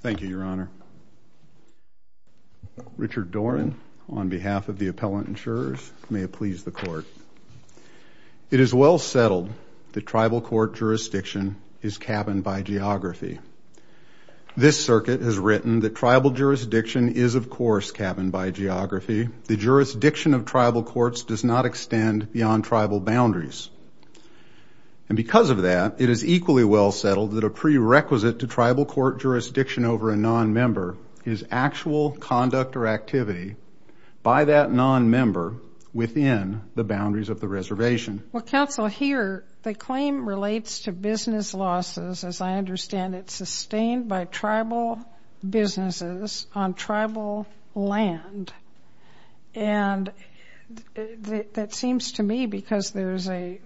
thank you your honor Richard Doran on behalf of the appellant insurers may it please the court it is well settled the tribal court jurisdiction is cabined by geography this circuit has written the tribal jurisdiction is of course cabined by geography the jurisdiction of tribal courts does not extend beyond tribal boundaries and because of that it is equally well settled that a jurisdiction over a non-member is actual conduct or activity by that non-member within the boundaries of the reservation well counsel here the claim relates to business losses as I understand it's sustained by tribal businesses on tribal land and that seems to me because there's a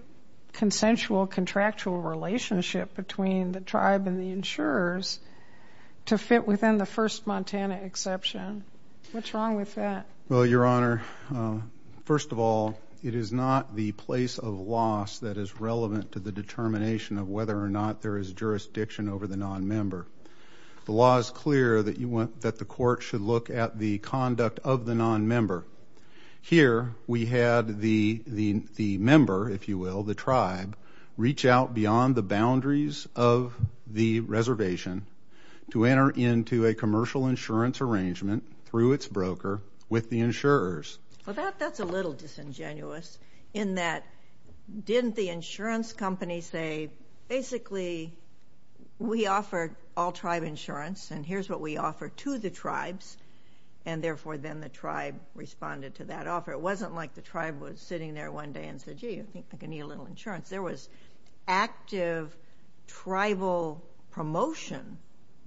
consensual contractual relationship between the tribe and the insurers to fit within the first Montana exception what's wrong with that well your honor first of all it is not the place of loss that is relevant to the determination of whether or not there is jurisdiction over the non-member the law is clear that you want that the court should look at the conduct of the non-member here we had the the the member if you will the tribe reach out beyond the boundaries of the reservation to enter into a commercial insurance arrangement through its broker with the insurers about that's a little disingenuous in that didn't the insurance company say basically we offer all tribe insurance and here's what we offer to the tribes and therefore then the tribe responded to that offer it sitting there one day and said gee I think I can eat a little insurance there was active tribal promotion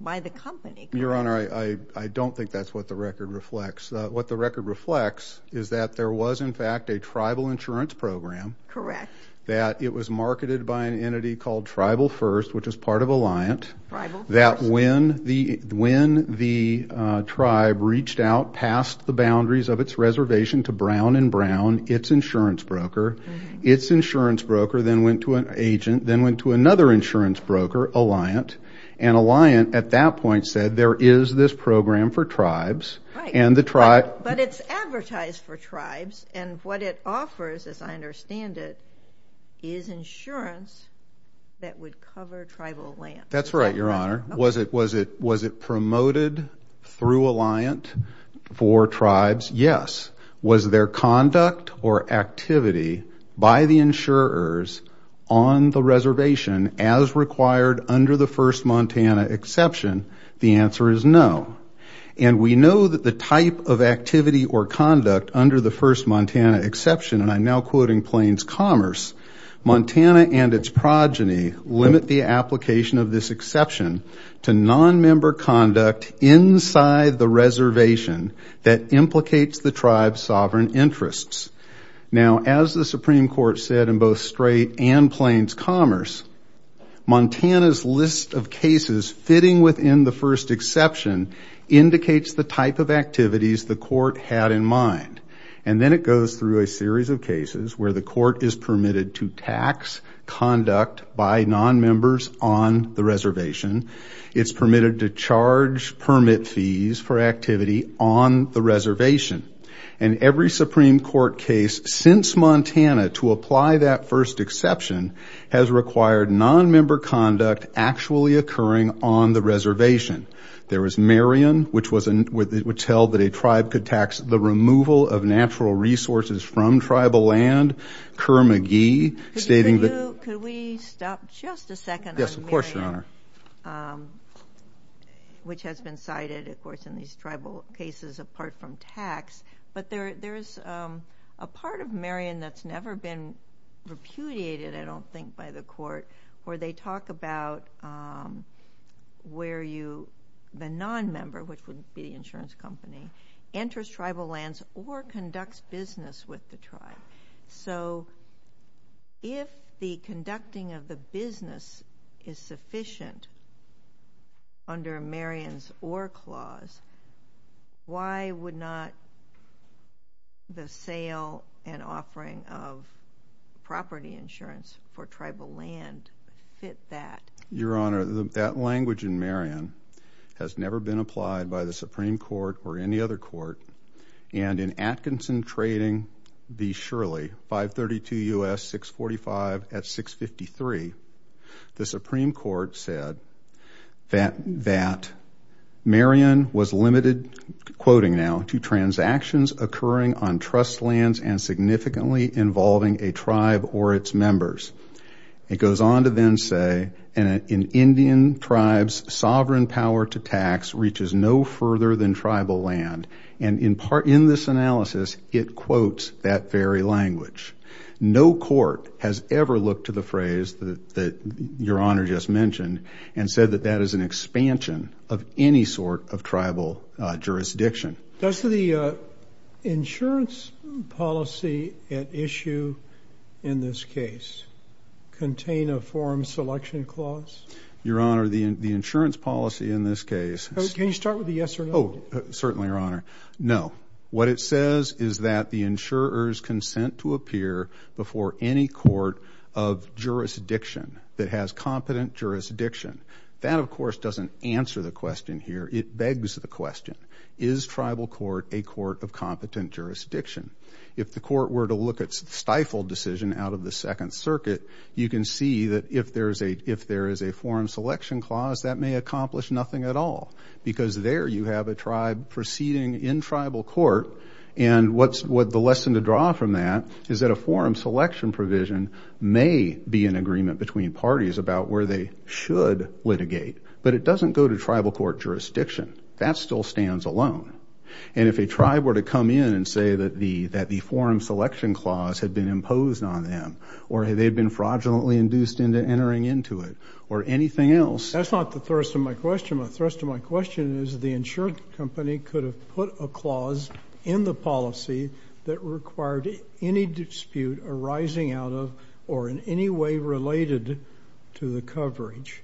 by the company your honor I I don't think that's what the record reflects what the record reflects is that there was in fact a tribal insurance program correct that it was marketed by an entity called tribal first which is part of a liant that when the when the tribe reached out passed the boundaries of its reservation to Brown and Brown its insurance broker its insurance broker then went to an agent then went to another insurance broker a liant and a liant at that point said there is this program for tribes and the tribe but it's advertised for tribes and what it offers as I understand it is insurance that would cover tribal land that's right your honor was it was it was it promoted through a liant for tribes yes was their conduct or activity by the insurers on the reservation as required under the first Montana exception the answer is no and we know that the type of activity or conduct under the first Montana exception and I'm now quoting Plains Commerce Montana and its progeny limit the application of this exception to non-member conduct inside the reservation that implicates the tribe's sovereign interests now as the Supreme Court said in both straight and Plains Commerce Montana's list of cases fitting within the first exception indicates the type of activities the court had in mind and then it goes through a series of cases the court is permitted to tax conduct by non-members on the reservation it's permitted to charge permit fees for activity on the reservation and every Supreme Court case since Montana to apply that first exception has required non-member conduct actually occurring on the reservation there was Marion which was in with it would tell that a tribe could removal of natural resources from tribal land Kerr McGee stating that we stop just a second yes of course your honor which has been cited of course in these tribal cases apart from tax but there there's a part of Marion that's never been repudiated I don't think by the court where they talk about where you the non-member which would be insurance company enters tribal lands or conducts business with the tribe so if the conducting of the business is sufficient under Marion's or clause why would not the sale and offering of property insurance for tribal land fit that your honor that language in Marion has never been applied by the Supreme Court or any other court and in Atkinson trading the Shirley 532 US 645 at 653 the Supreme Court said that that Marion was limited quoting now to transactions occurring on trust lands and significantly involving a tribe or its members it goes on to then say and in Indian tribes sovereign power to tax reaches no further than tribal land and in part in this analysis it quotes that very language no court has ever looked to the phrase that your honor just mentioned and said that that is an expansion of any sort of tribal jurisdiction does the insurance policy issue in this case contain a form selection clause your honor the insurance policy in this case can you start with the yes or no certainly your honor no what it says is that the insurers consent to appear before any court of jurisdiction that has competent jurisdiction that of course doesn't answer the question here it begs the question is tribal court a court of competent jurisdiction if the court were to look at stifled decision out of the Second Circuit you can see that if there's a if there is a form selection clause that may accomplish nothing at all because there you have a tribe proceeding in tribal court and what's what the lesson to draw from that is that a form selection provision may be an agreement between parties about where they should litigate but it doesn't go to tribal court jurisdiction that still stands alone and if a tribe were to come in and say that the that the forum selection clause had been imposed on them or have they been fraudulently induced into entering into it or anything else that's not the first of my question my thrust of my question is the insured company could have put a clause in the policy that required any dispute arising out of or in any way related to the coverage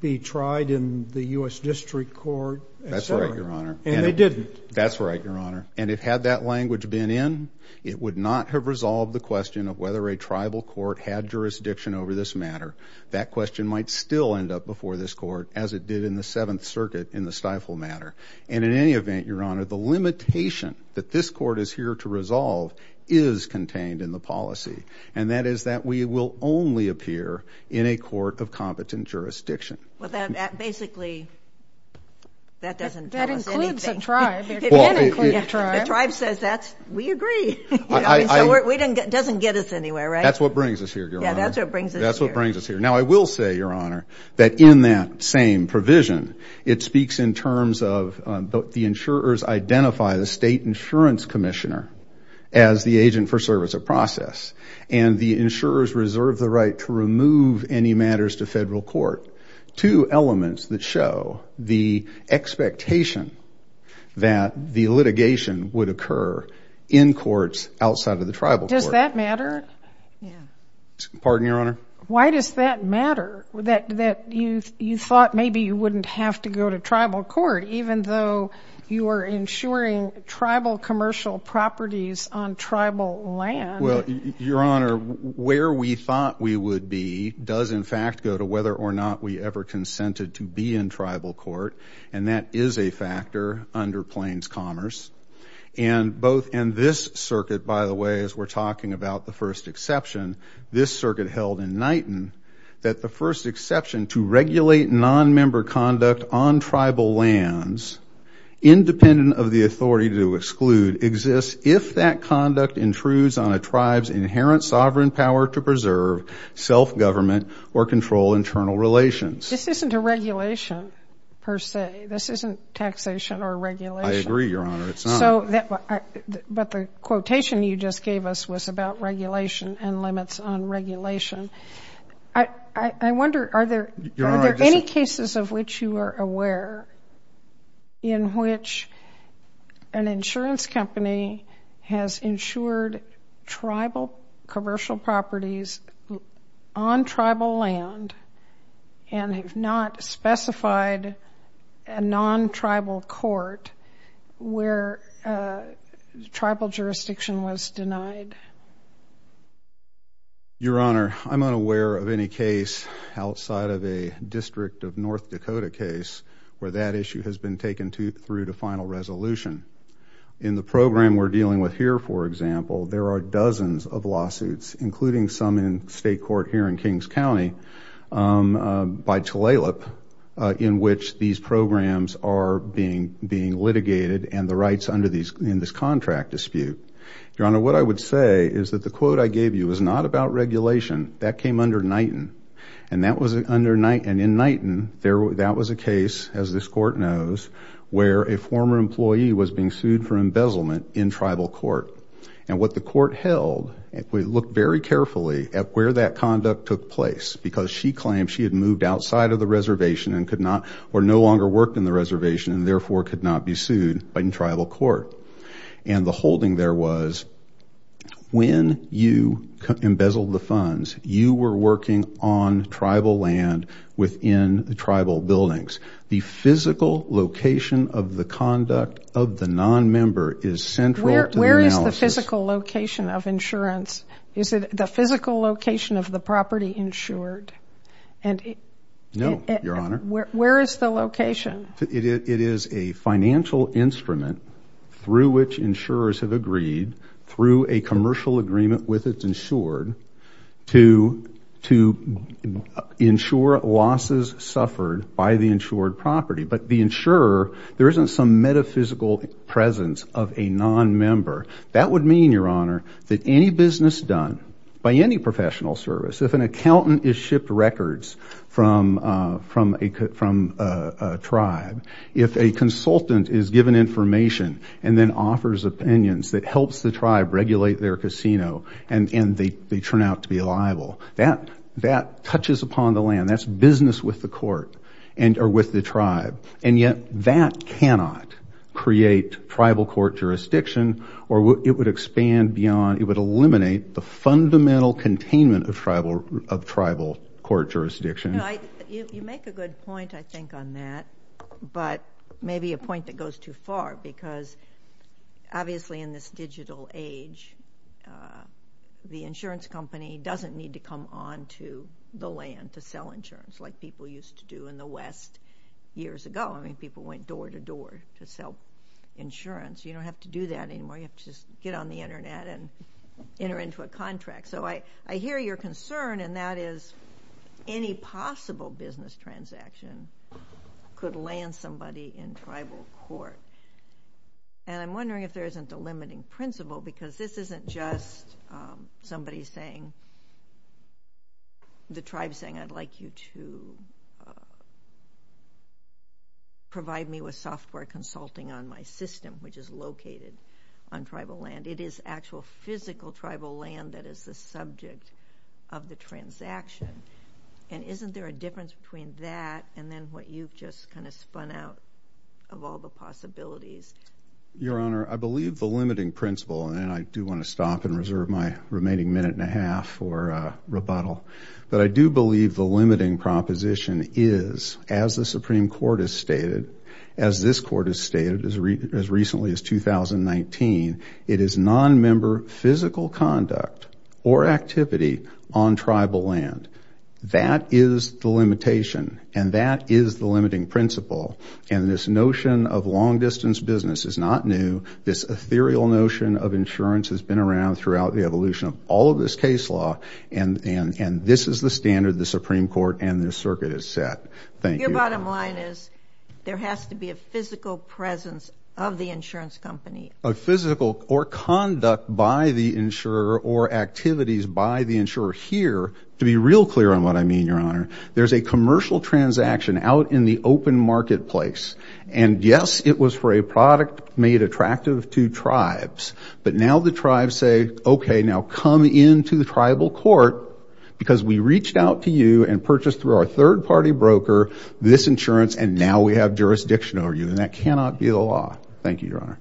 be tried in the US District Court that's right your honor and they didn't that's right your honor and it had that language been in it would not have resolved the question of whether a tribal court had jurisdiction over this matter that question might still end up before this court as it did in the Seventh Circuit in the stifle matter and in any event your honor the limitation that this in the policy and that is that we will only appear in a court of competent jurisdiction well that basically that doesn't drive says that's we agree we didn't get doesn't get us anywhere right that's what brings us here yeah that's what brings us that's what brings us here now I will say your honor that in that same provision it speaks in terms of the insurers identify the state insurance commissioner as the agent for service a process and the insurers reserve the right to remove any matters to federal court two elements that show the expectation that the litigation would occur in courts outside of the tribal does that matter pardon your honor why does that matter that that you you thought maybe you wouldn't have to go to tribal court even though you are insuring tribal commercial properties on tribal land well your honor where we thought we would be does in fact go to whether or not we ever consented to be in tribal court and that is a factor under Plains Commerce and both in this circuit by the way as we're talking about the first exception this circuit held in nighton that the first exception to regulate non-member conduct on tribal lands independent of the authority to exclude exists if that conduct intrudes on a tribes inherent sovereign power to preserve self-government or control internal relations this isn't a regulation per se this isn't taxation or regulation I agree your honor it's not so that but the quotation you just gave us was about regulation and limits on regulation I I wonder are there any cases of which you are aware in which an insurance company has insured tribal commercial properties on tribal land and have not specified a non-tribal court where tribal jurisdiction was denied your honor I'm unaware of any case outside of a district of North Dakota case where that issue has been taken to through to final resolution in the program we're dealing with here for example there are dozens of lawsuits including some in state court here in Kings County by Tulalip in which these programs are being being litigated and the rights under these in this contract dispute your honor what I would say is that the quote I gave you is not about regulation that came under night and that was it under night and in night and there was that was a case as this court knows where a former employee was being sued for embezzlement in tribal court and what the court held if we look very carefully at where that conduct took place because she claimed she had moved outside of the reservation and could not or no longer work in the reservation and therefore could not be sued in tribal court and the holding there was when you embezzled the funds you were working on tribal land within the tribal buildings the physical location of the conduct of the non-member is central where is the physical location of insurance is it the physical location of the property insured and no your honor where is the location it is a financial instrument through which insurers have agreed through a commercial agreement with its insured to to ensure losses suffered by the insured property but the insurer there isn't some metaphysical presence of a non-member that would mean your honor that any business done by any professional service if an accountant is shipped records from from a cut from tribe if a consultant is given information and then offers opinions that helps the tribe regulate their casino and in the they turn out to be liable that that touches upon the land that's business with the court and or with the tribe and yet that cannot create tribal court jurisdiction or what would expand beyond it would eliminate the fundamental containment of tribal of tribal court jurisdiction you make a good point I think on that but maybe a point that goes too far because obviously in this digital age the insurance company doesn't need to come on to the land to sell insurance like people used to do in the West years ago I mean people went door-to-door to sell insurance you don't have to do that anymore you have to get on the internet and enter into a contract so I I hear your concern and that is any possible business transaction could land somebody in tribal court and I'm wondering if there isn't a limiting principle because this isn't just somebody saying the which is located on tribal land it is actual physical tribal land that is the subject of the transaction and isn't there a difference between that and then what you've just kind of spun out of all the possibilities your honor I believe the limiting principle and I do want to stop and reserve my remaining minute and a half for rebuttal but I do believe the limiting proposition is as the Supreme Court has stated as this court is stated as recently as 2019 it is non-member physical conduct or activity on tribal land that is the limitation and that is the limiting principle and this notion of long-distance business is not new this ethereal notion of insurance has been around throughout the evolution of all of this case law and and and this is the standard the Supreme Court and this circuit is set thank you bottom line is there has to be a physical presence of the insurance company a physical or conduct by the insurer or activities by the insurer here to be real clear on what I mean your honor there's a commercial transaction out in the open marketplace and yes it was for a product made attractive to tribes but now the tribes say okay now come into the tribal court because we reached out to you and purchased through our third-party broker this insurance and now we have jurisdiction over you and that cannot be the law thank you your honor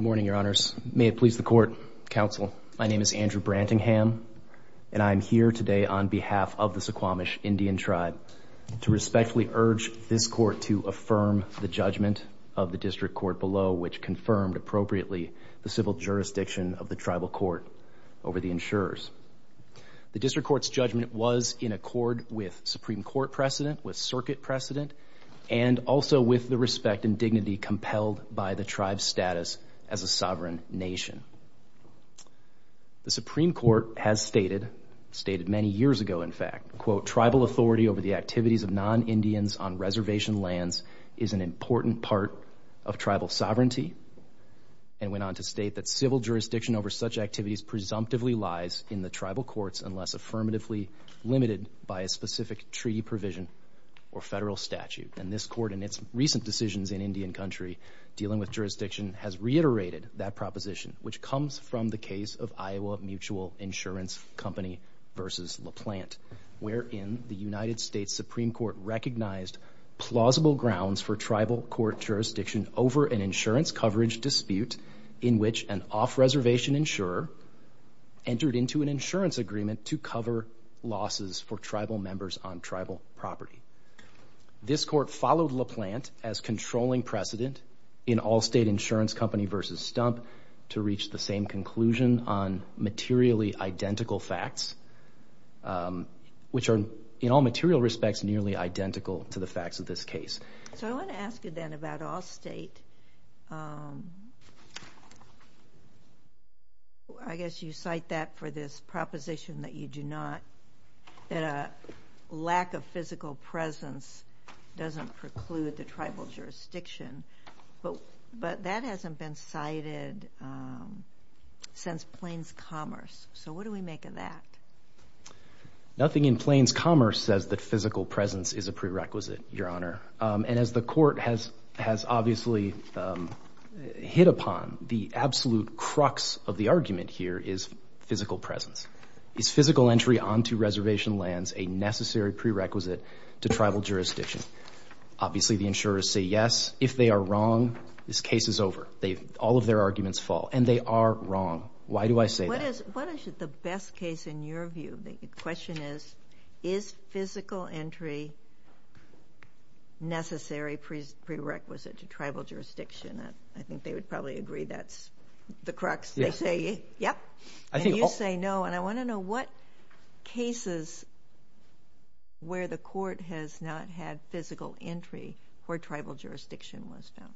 morning your honors may it please the court counsel my name is Andrew Branting ham and I'm here today on behalf of the Suquamish Indian tribe to respectfully urge this court to affirm the judgment of the district court below which confirmed appropriately the civil jurisdiction of the tribal court over the insurers the district courts judgment was in accord with Supreme Court precedent with circuit precedent and also with the respect and dignity compelled by the tribe status as a sovereign nation the Supreme Court has stated stated many years ago in fact quote tribal authority over the Indians on reservation lands is an important part of tribal sovereignty and went on to state that civil jurisdiction over such activities presumptively lies in the tribal courts unless affirmatively limited by a specific treaty provision or federal statute and this court in its recent decisions in Indian country dealing with jurisdiction has reiterated that proposition which comes from the case of Iowa Mutual Insurance Company versus LaPlante wherein the United States Supreme Court recognized plausible grounds for tribal court jurisdiction over an insurance coverage dispute in which an off-reservation insurer entered into an insurance agreement to cover losses for tribal members on tribal property this court followed LaPlante as controlling precedent in all state insurance company versus stump to reach the same conclusion on materially identical facts which are in all material respects nearly identical to the facts of this case so I want to ask you then about all state I guess you cite that for this proposition that you do not that a lack of physical presence doesn't preclude the tribal jurisdiction but but that hasn't been cited since Plains Commerce so what do we make of that nothing in Plains Commerce says that physical presence is a prerequisite your honor and as the court has has obviously hit upon the absolute crux of the argument here is physical presence is physical entry on to reservation lands a necessary prerequisite to tribal jurisdiction obviously the insurers say yes if they are wrong this case is over they've all of their arguments fall and they are wrong why do I say what is the best case in your view the question is is physical entry necessary prerequisite to tribal jurisdiction I think they would probably agree that's the crux they say yep I think you say no and I want to know what cases where the court has not had physical entry for tribal jurisdiction was found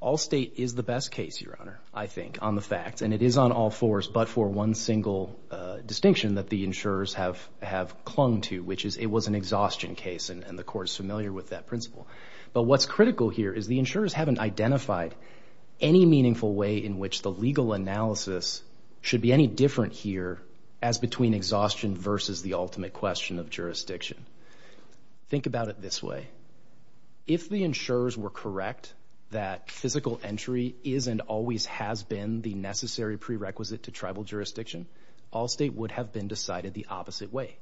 all state is the best case your honor I think on the facts and it is on all fours but for one single distinction that the insurers have have clung to which is it was an exhaustion case and the court is familiar with that principle but what's critical here is the insurers haven't identified any meaningful way in which the legal analysis should be any different here as between exhaustion versus the ultimate question of correct that physical entry is and always has been the necessary prerequisite to tribal jurisdiction all state would have been decided the opposite way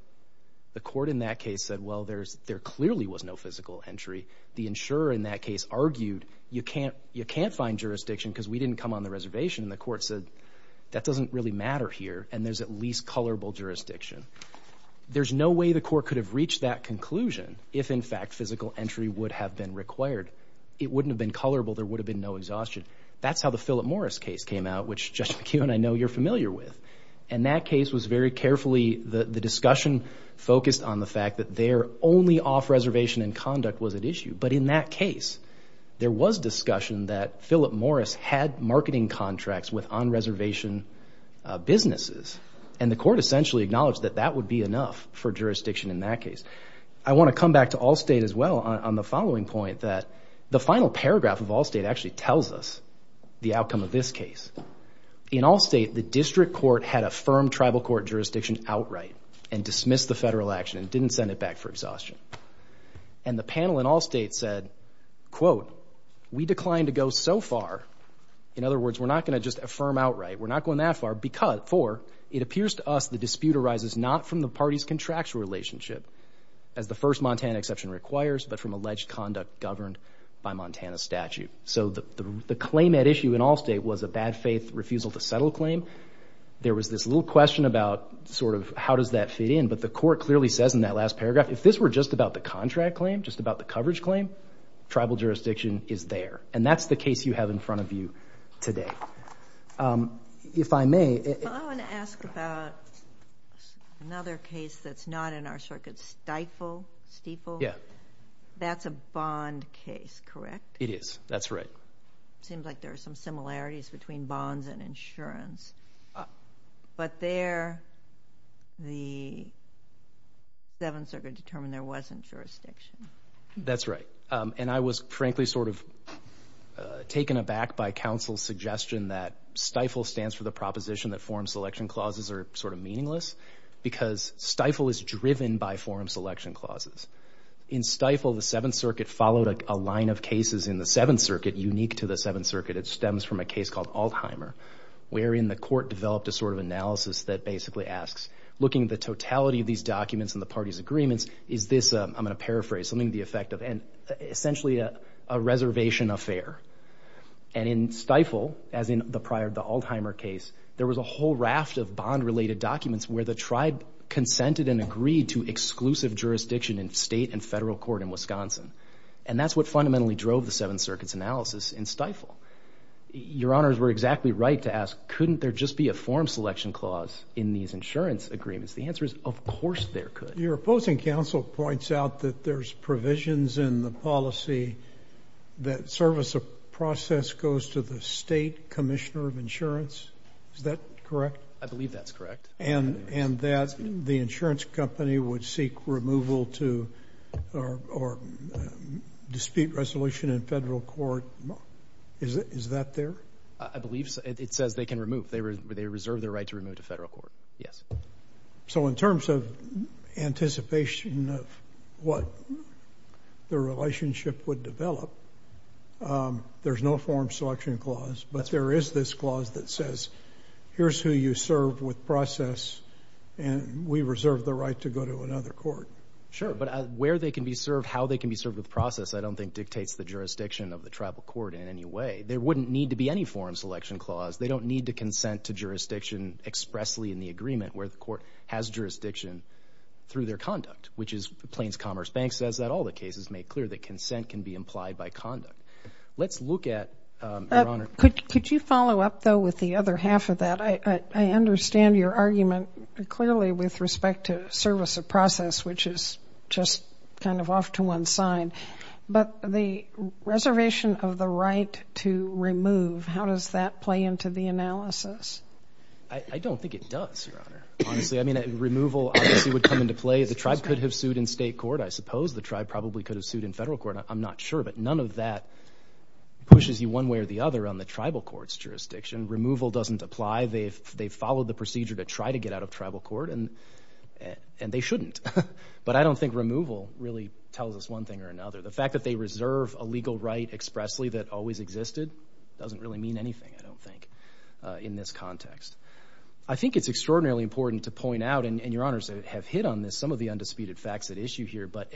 the court in that case said well there's there clearly was no physical entry the insurer in that case argued you can't you can't find jurisdiction because we didn't come on the reservation the court said that doesn't really matter here and there's at least colorable jurisdiction there's no way the court could have reached that conclusion if in fact physical entry would have been required it wouldn't have been colorable there would have been no exhaustion that's how the Philip Morris case came out which just you and I know you're familiar with and that case was very carefully the the discussion focused on the fact that they're only off reservation and conduct was at issue but in that case there was discussion that Philip Morris had marketing contracts with on reservation businesses and the court essentially acknowledged that that would be enough for jurisdiction in that case I want to come back to all state as well on the following point that the final paragraph of all state actually tells us the outcome of this case in all state the district court had a firm tribal court jurisdiction outright and dismissed the federal action and didn't send it back for exhaustion and the panel in all state said quote we declined to go so far in other words we're not going to just affirm outright we're not going that far because for it appears to us the dispute arises not from the party's contractual relationship as the first Montana exception requires but from alleged conduct governed by Montana statute so the claim at issue in all state was a bad faith refusal to settle claim there was this little question about sort of how does that fit in but the court clearly says in that last paragraph if this were just about the contract claim just about the coverage claim tribal jurisdiction is there and that's the case you have in front of you today if I may another case that's not in our circuit stifle steeple yeah that's a bond case correct it is that's right seems like there are some similarities between bonds and insurance but there the seventh circuit determined there wasn't jurisdiction that's right and I was frankly sort of taken aback by counsel's suggestion that stifle stands for the proposition that forum selection clauses are sort of meaningless because stifle is driven by forum selection clauses in stifle the Seventh Circuit followed a line of cases in the Seventh Circuit unique to the Seventh Circuit it stems from a case called Altheimer wherein the court developed a sort of analysis that basically asks looking at the totality of these documents and the party's agreements is this I'm going to paraphrase something the effect of and essentially a reservation affair and in stifle as in the prior the Altheimer case there was a whole raft of bond related documents where the tribe consented and agreed to exclusive jurisdiction in state and federal court in Wisconsin and that's what fundamentally drove the Seventh Circuit's analysis in stifle your honors were exactly right to ask couldn't there just be a forum selection clause in these insurance agreements the answer is of course there could your opposing counsel points out that there's provisions in the policy that service a process goes to the state Commissioner of Insurance is correct I believe that's correct and and that's the insurance company would seek removal to or dispute resolution in federal court is that there I believe it says they can remove they were they reserve their right to remove to federal court yes so in terms of anticipation of what the relationship would develop there's no forum selection clause but there is this clause that says here's who you serve with process and we reserve the right to go to another court sure but where they can be served how they can be served with process I don't think dictates the jurisdiction of the tribal court in any way there wouldn't need to be any forum selection clause they don't need to consent to jurisdiction expressly in the agreement where the court has jurisdiction through their conduct which is the Plains Commerce Bank says that all the cases make clear that consent can be implied by conduct let's look at could you follow up though with the other half of that I understand your argument clearly with respect to service a process which is just kind of off to one side but the reservation of the right to remove how does that play into the analysis I don't think it does honestly I mean a removal would come into play the tribe could have sued in state court I suppose the tribe probably could have sued in federal court I'm not sure but none of that pushes you one way or the other on the tribal courts jurisdiction removal doesn't apply they've they followed the procedure to try to get out of tribal court and and they shouldn't but I don't think removal really tells us one thing or another the fact that they reserve a legal right expressly that always existed doesn't really mean anything I don't think in this context I think it's extraordinarily important to point out and your honors have hit on this some of the undisputed facts at issue here but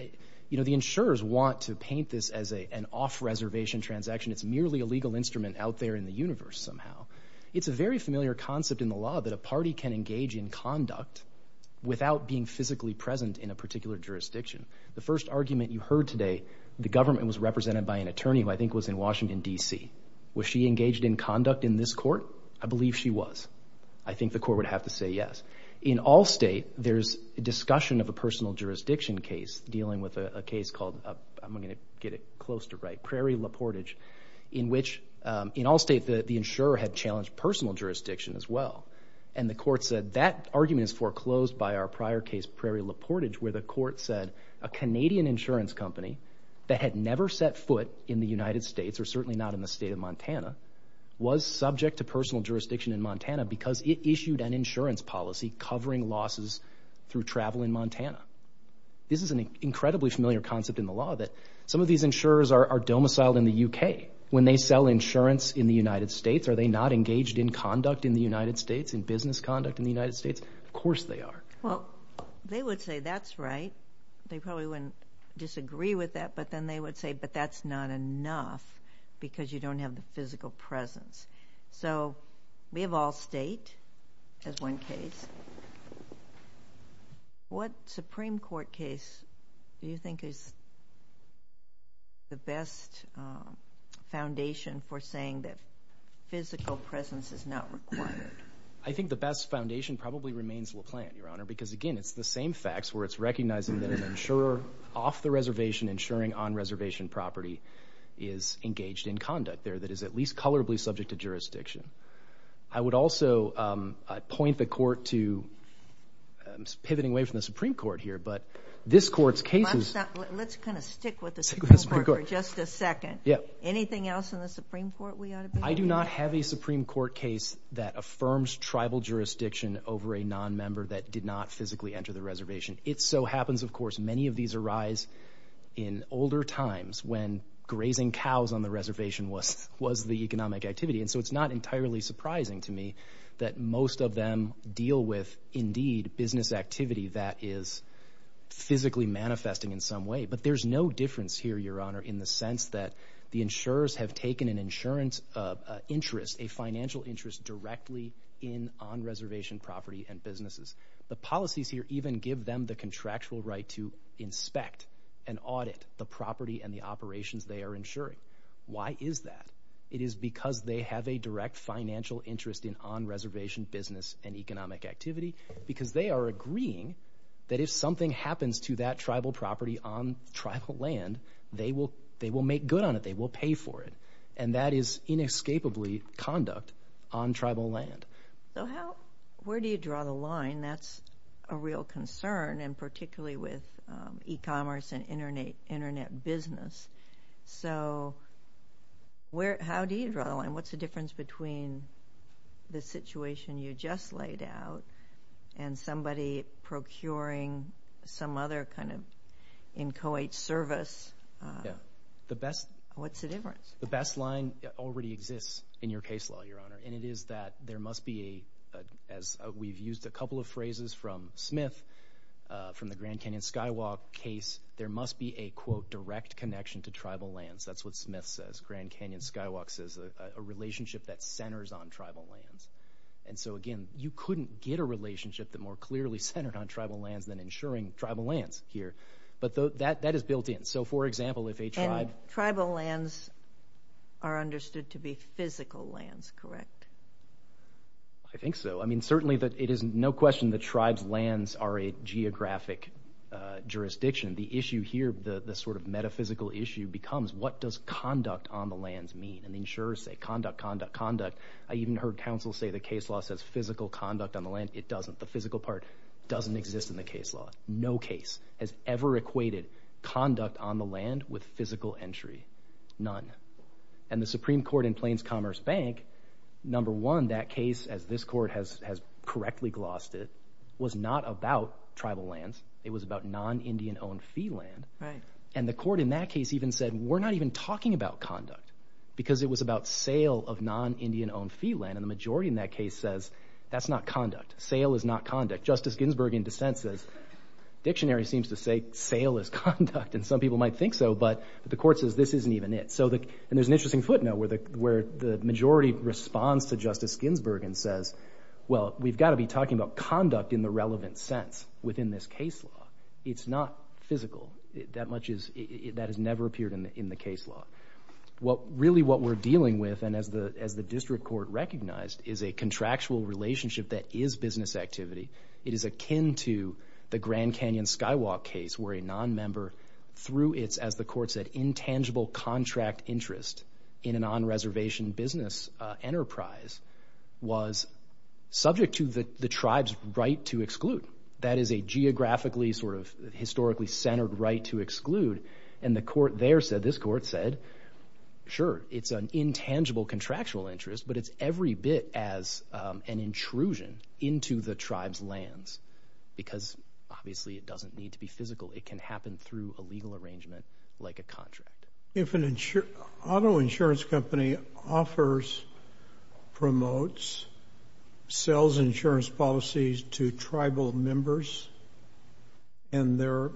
you know the insurers want to paint this as a an off-reservation transaction it's merely a legal instrument out there in the universe somehow it's a very familiar concept in the law that a party can engage in conduct without being physically present in a particular jurisdiction the first argument you heard today the government was represented by an attorney who I think was in Washington DC was she engaged in conduct in this court I believe she was I think the court would have to say yes in all state there's a discussion of a personal jurisdiction case dealing with a case called I'm gonna get it close to right Prairie La Portage in which in all state that the insurer had challenged personal jurisdiction as well and the court said that argument is foreclosed by our prior case Prairie La Portage where the court said a Canadian insurance company that had never set foot in the United States or certainly because it issued an insurance policy covering losses through travel in Montana this is an incredibly familiar concept in the law that some of these insurers are domiciled in the UK when they sell insurance in the United States are they not engaged in conduct in the United States in business conduct in the United States of course they are well they would say that's right they probably wouldn't disagree with that but then they would say but that's not enough because you don't have the physical presence so we have all state as one case what Supreme Court case do you think is the best foundation for saying that physical presence is not required I think the best foundation probably remains Laplante your honor because again it's the same facts where it's recognizing that an insurer off the reservation insuring on reservation property is engaged in conduct there that is at least colorably subject to jurisdiction I would also point the court to pivoting away from the Supreme Court here but this court's cases let's kind of stick with this just a second yeah anything else in the Supreme Court we ought to I do not have a Supreme Court case that affirms tribal jurisdiction over a non-member that did not physically enter the reservation it so happens of course many of these arise in older times when grazing cows on the reservation was was the economic activity and so it's not entirely surprising to me that most of them deal with indeed business activity that is physically manifesting in some way but there's no difference here your honor in the sense that the insurers have taken an insurance of interest a financial interest directly in on reservation property and businesses the policies here even give them the contractual right to inspect and audit the property and the operations they are insuring why is that it is because they have a direct financial interest in on reservation business and economic activity because they are agreeing that if something happens to that tribal property on tribal land they will they will make good on it they will pay for it and that is inescapably conduct on tribal land so how where do you draw the line that's a real concern and particularly with e-commerce and internet internet business so where how do you draw and what's the difference between the situation you just laid out and somebody procuring some other kind of inchoate service the best what's the difference the best line already exists in your case law your honor and it is that there must be a as we've used a couple of phrases from Smith from the Grand Canyon Skywalk case there must be a quote direct connection to tribal lands that's what Smith says Grand Canyon Skywalk says a relationship that centers on tribal lands and so again you couldn't get a relationship that more clearly centered on tribal lands than insuring tribal lands here but though that that is built in so for example if a tribe tribal lands are understood to be physical lands correct I think so I mean certainly that it is no question the tribes lands are a geographic jurisdiction the issue here the the sort of metaphysical issue becomes what does conduct on the lands mean and the insurers say conduct conduct conduct I even heard counsel say the case law says physical conduct on the land it doesn't the physical part doesn't exist in the case law no case has ever equated conduct on the land with physical entry none and the Supreme Court in Plains Commerce Bank number one that case as this court has has correctly glossed it was not about tribal lands it was about non-indian-owned fee land right and the court in that case even said we're not even talking about conduct because it was about sale of non-indian-owned fee land and the majority in that case says that's not conduct sale is not conduct Justice Ginsburg in dissent says dictionary seems to say sale is conduct and some people might think so but the court says this isn't even it so that and there's an interesting footnote where the where the majority responds to well we've got to be talking about conduct in the relevant sense within this case law it's not physical that much is it that has never appeared in the case law what really what we're dealing with and as the as the district court recognized is a contractual relationship that is business activity it is akin to the Grand Canyon Skywalk case where a non-member through its as the court said intangible contract interest in an on-reservation business enterprise was subject to the the tribes right to exclude that is a geographically sort of historically centered right to exclude and the court there said this court said sure it's an intangible contractual interest but it's every bit as an intrusion into the tribes lands because obviously it doesn't need to be physical it can happen through a legal arrangement like a contract. If an auto insurance company offers promotes sells insurance policies to tribal members and they're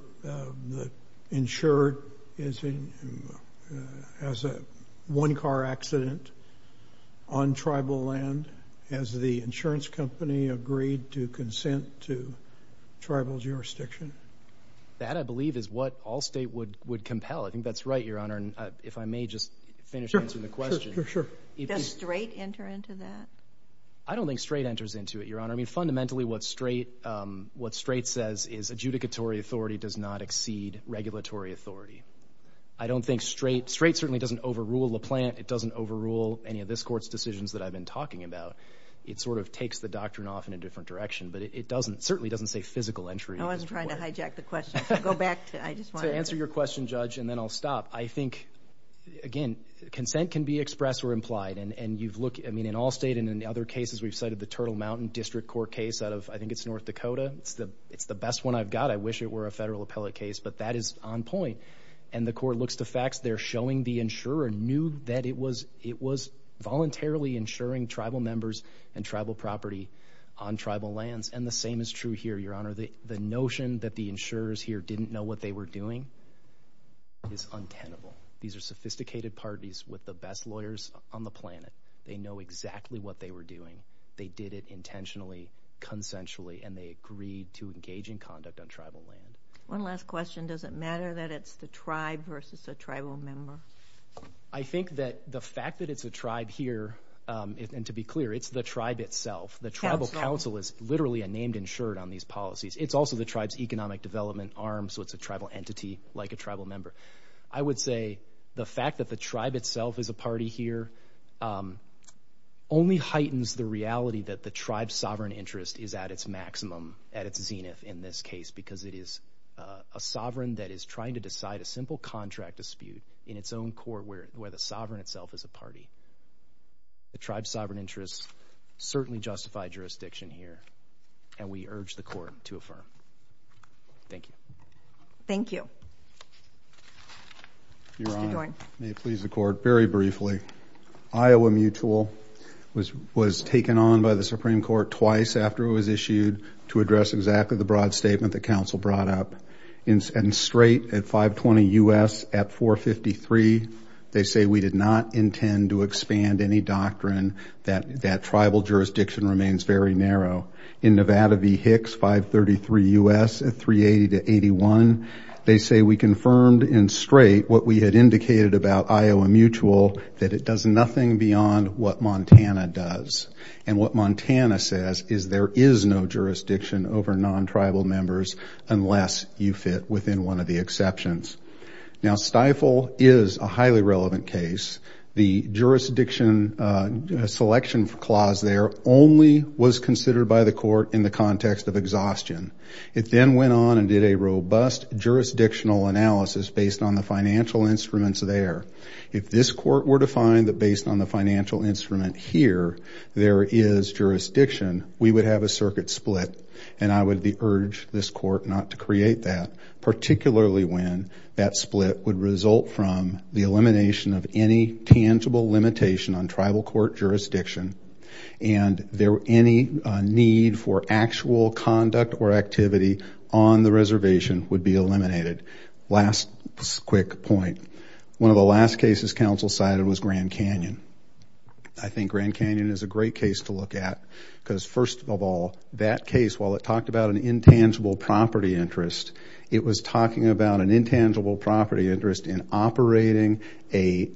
insured as a one-car accident on tribal land as the insurance company agreed to consent to tribal jurisdiction? That I would would compel I think that's right your honor and if I may just finish answering the question. Does straight enter into that? I don't think straight enters into it your honor I mean fundamentally what straight what straight says is adjudicatory authority does not exceed regulatory authority I don't think straight straight certainly doesn't overrule the plant it doesn't overrule any of this courts decisions that I've been talking about it sort of takes the doctrine off in a different direction but it doesn't certainly doesn't say physical entry. I wasn't trying to hijack the question go back to I just want to answer your question judge and then I'll stop I think again consent can be expressed or implied and and you've looked I mean in all state and in other cases we've cited the Turtle Mountain District Court case out of I think it's North Dakota it's the it's the best one I've got I wish it were a federal appellate case but that is on point and the court looks to facts they're showing the insurer knew that it was it was voluntarily insuring tribal members and tribal property on tribal lands and the same is true here your honor the the notion that the insurers here didn't know what they were doing is untenable these are sophisticated parties with the best lawyers on the planet they know exactly what they were doing they did it intentionally consensually and they agreed to engage in conduct on tribal land. One last question does it matter that it's the tribe versus a tribal member? I think that the fact that it's a tribe here and to be clear it's the tribe itself the Tribal Council is literally a named insured on these policies it's also the tribes economic development arm so it's a tribal entity like a tribal member I would say the fact that the tribe itself is a party here only heightens the reality that the tribe sovereign interest is at its maximum at its zenith in this case because it is a sovereign that is trying to decide a sovereign itself as a party the tribe sovereign interests certainly justify jurisdiction here and we urge the court to affirm. Thank you. Thank you. Your honor, may it please the court very briefly Iowa Mutual was was taken on by the Supreme Court twice after it was issued to address exactly the broad statement the council brought up and straight at 520 US at 453 they say we did not intend to expand any doctrine that that tribal jurisdiction remains very narrow in Nevada V Hicks 533 US at 380 to 81 they say we confirmed in straight what we had indicated about Iowa Mutual that it does nothing beyond what Montana does and what Montana says is there is no jurisdiction over non-tribal members unless you fit within one of the exceptions. Now stifle is a highly relevant case the jurisdiction selection clause there only was considered by the court in the context of exhaustion it then went on and did a robust jurisdictional analysis based on the financial instruments there if this court were to find that based on the financial instrument here there is jurisdiction we would have a circuit split and I would be urge this court not to create that particularly when that split would result from the elimination of any tangible limitation on tribal court jurisdiction and there were any need for actual conduct or activity on the reservation would be eliminated last quick point one of the last cases council cited was Grand Canyon I think Grand Canyon is a great case to look at because first of all that case while it talked about an intangible property interest it was talking about an intangible property interest in operating a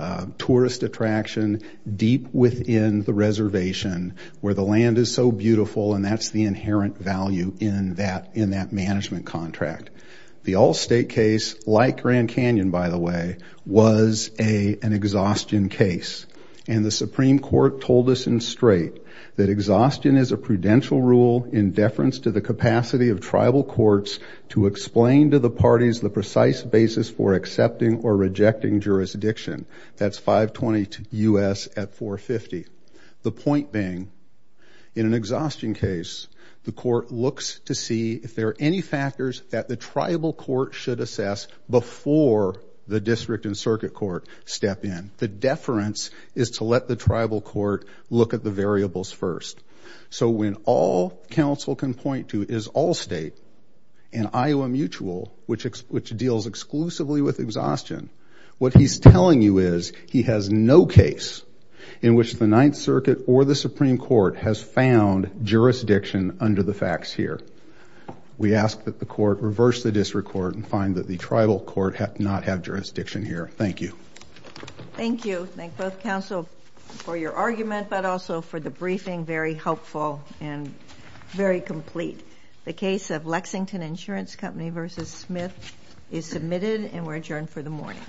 a tourist attraction deep within the reservation where the land is so beautiful and that's the inherent value in that in that management contract the Allstate case like Grand Canyon by the way was a an exhaustion case and the Supreme Court told us in straight that exhaustion is a prudential rule in deference to the capacity of tribal courts to explain to the parties the precise basis for accepting or rejecting jurisdiction that's 522 US at 450 the point being in an exhaustion case the court looks to see if there are any factors that the tribal court should assess before the in the deference is to let the tribal court look at the variables first so when all counsel can point to is Allstate and Iowa Mutual which which deals exclusively with exhaustion what he's telling you is he has no case in which the Ninth Circuit or the Supreme Court has found jurisdiction under the facts here we ask that the court reverse the district court and find that the thank you thank both counsel for your argument but also for the briefing very helpful and very complete the case of Lexington Insurance Company vs. Smith is submitted and we're adjourned for the morning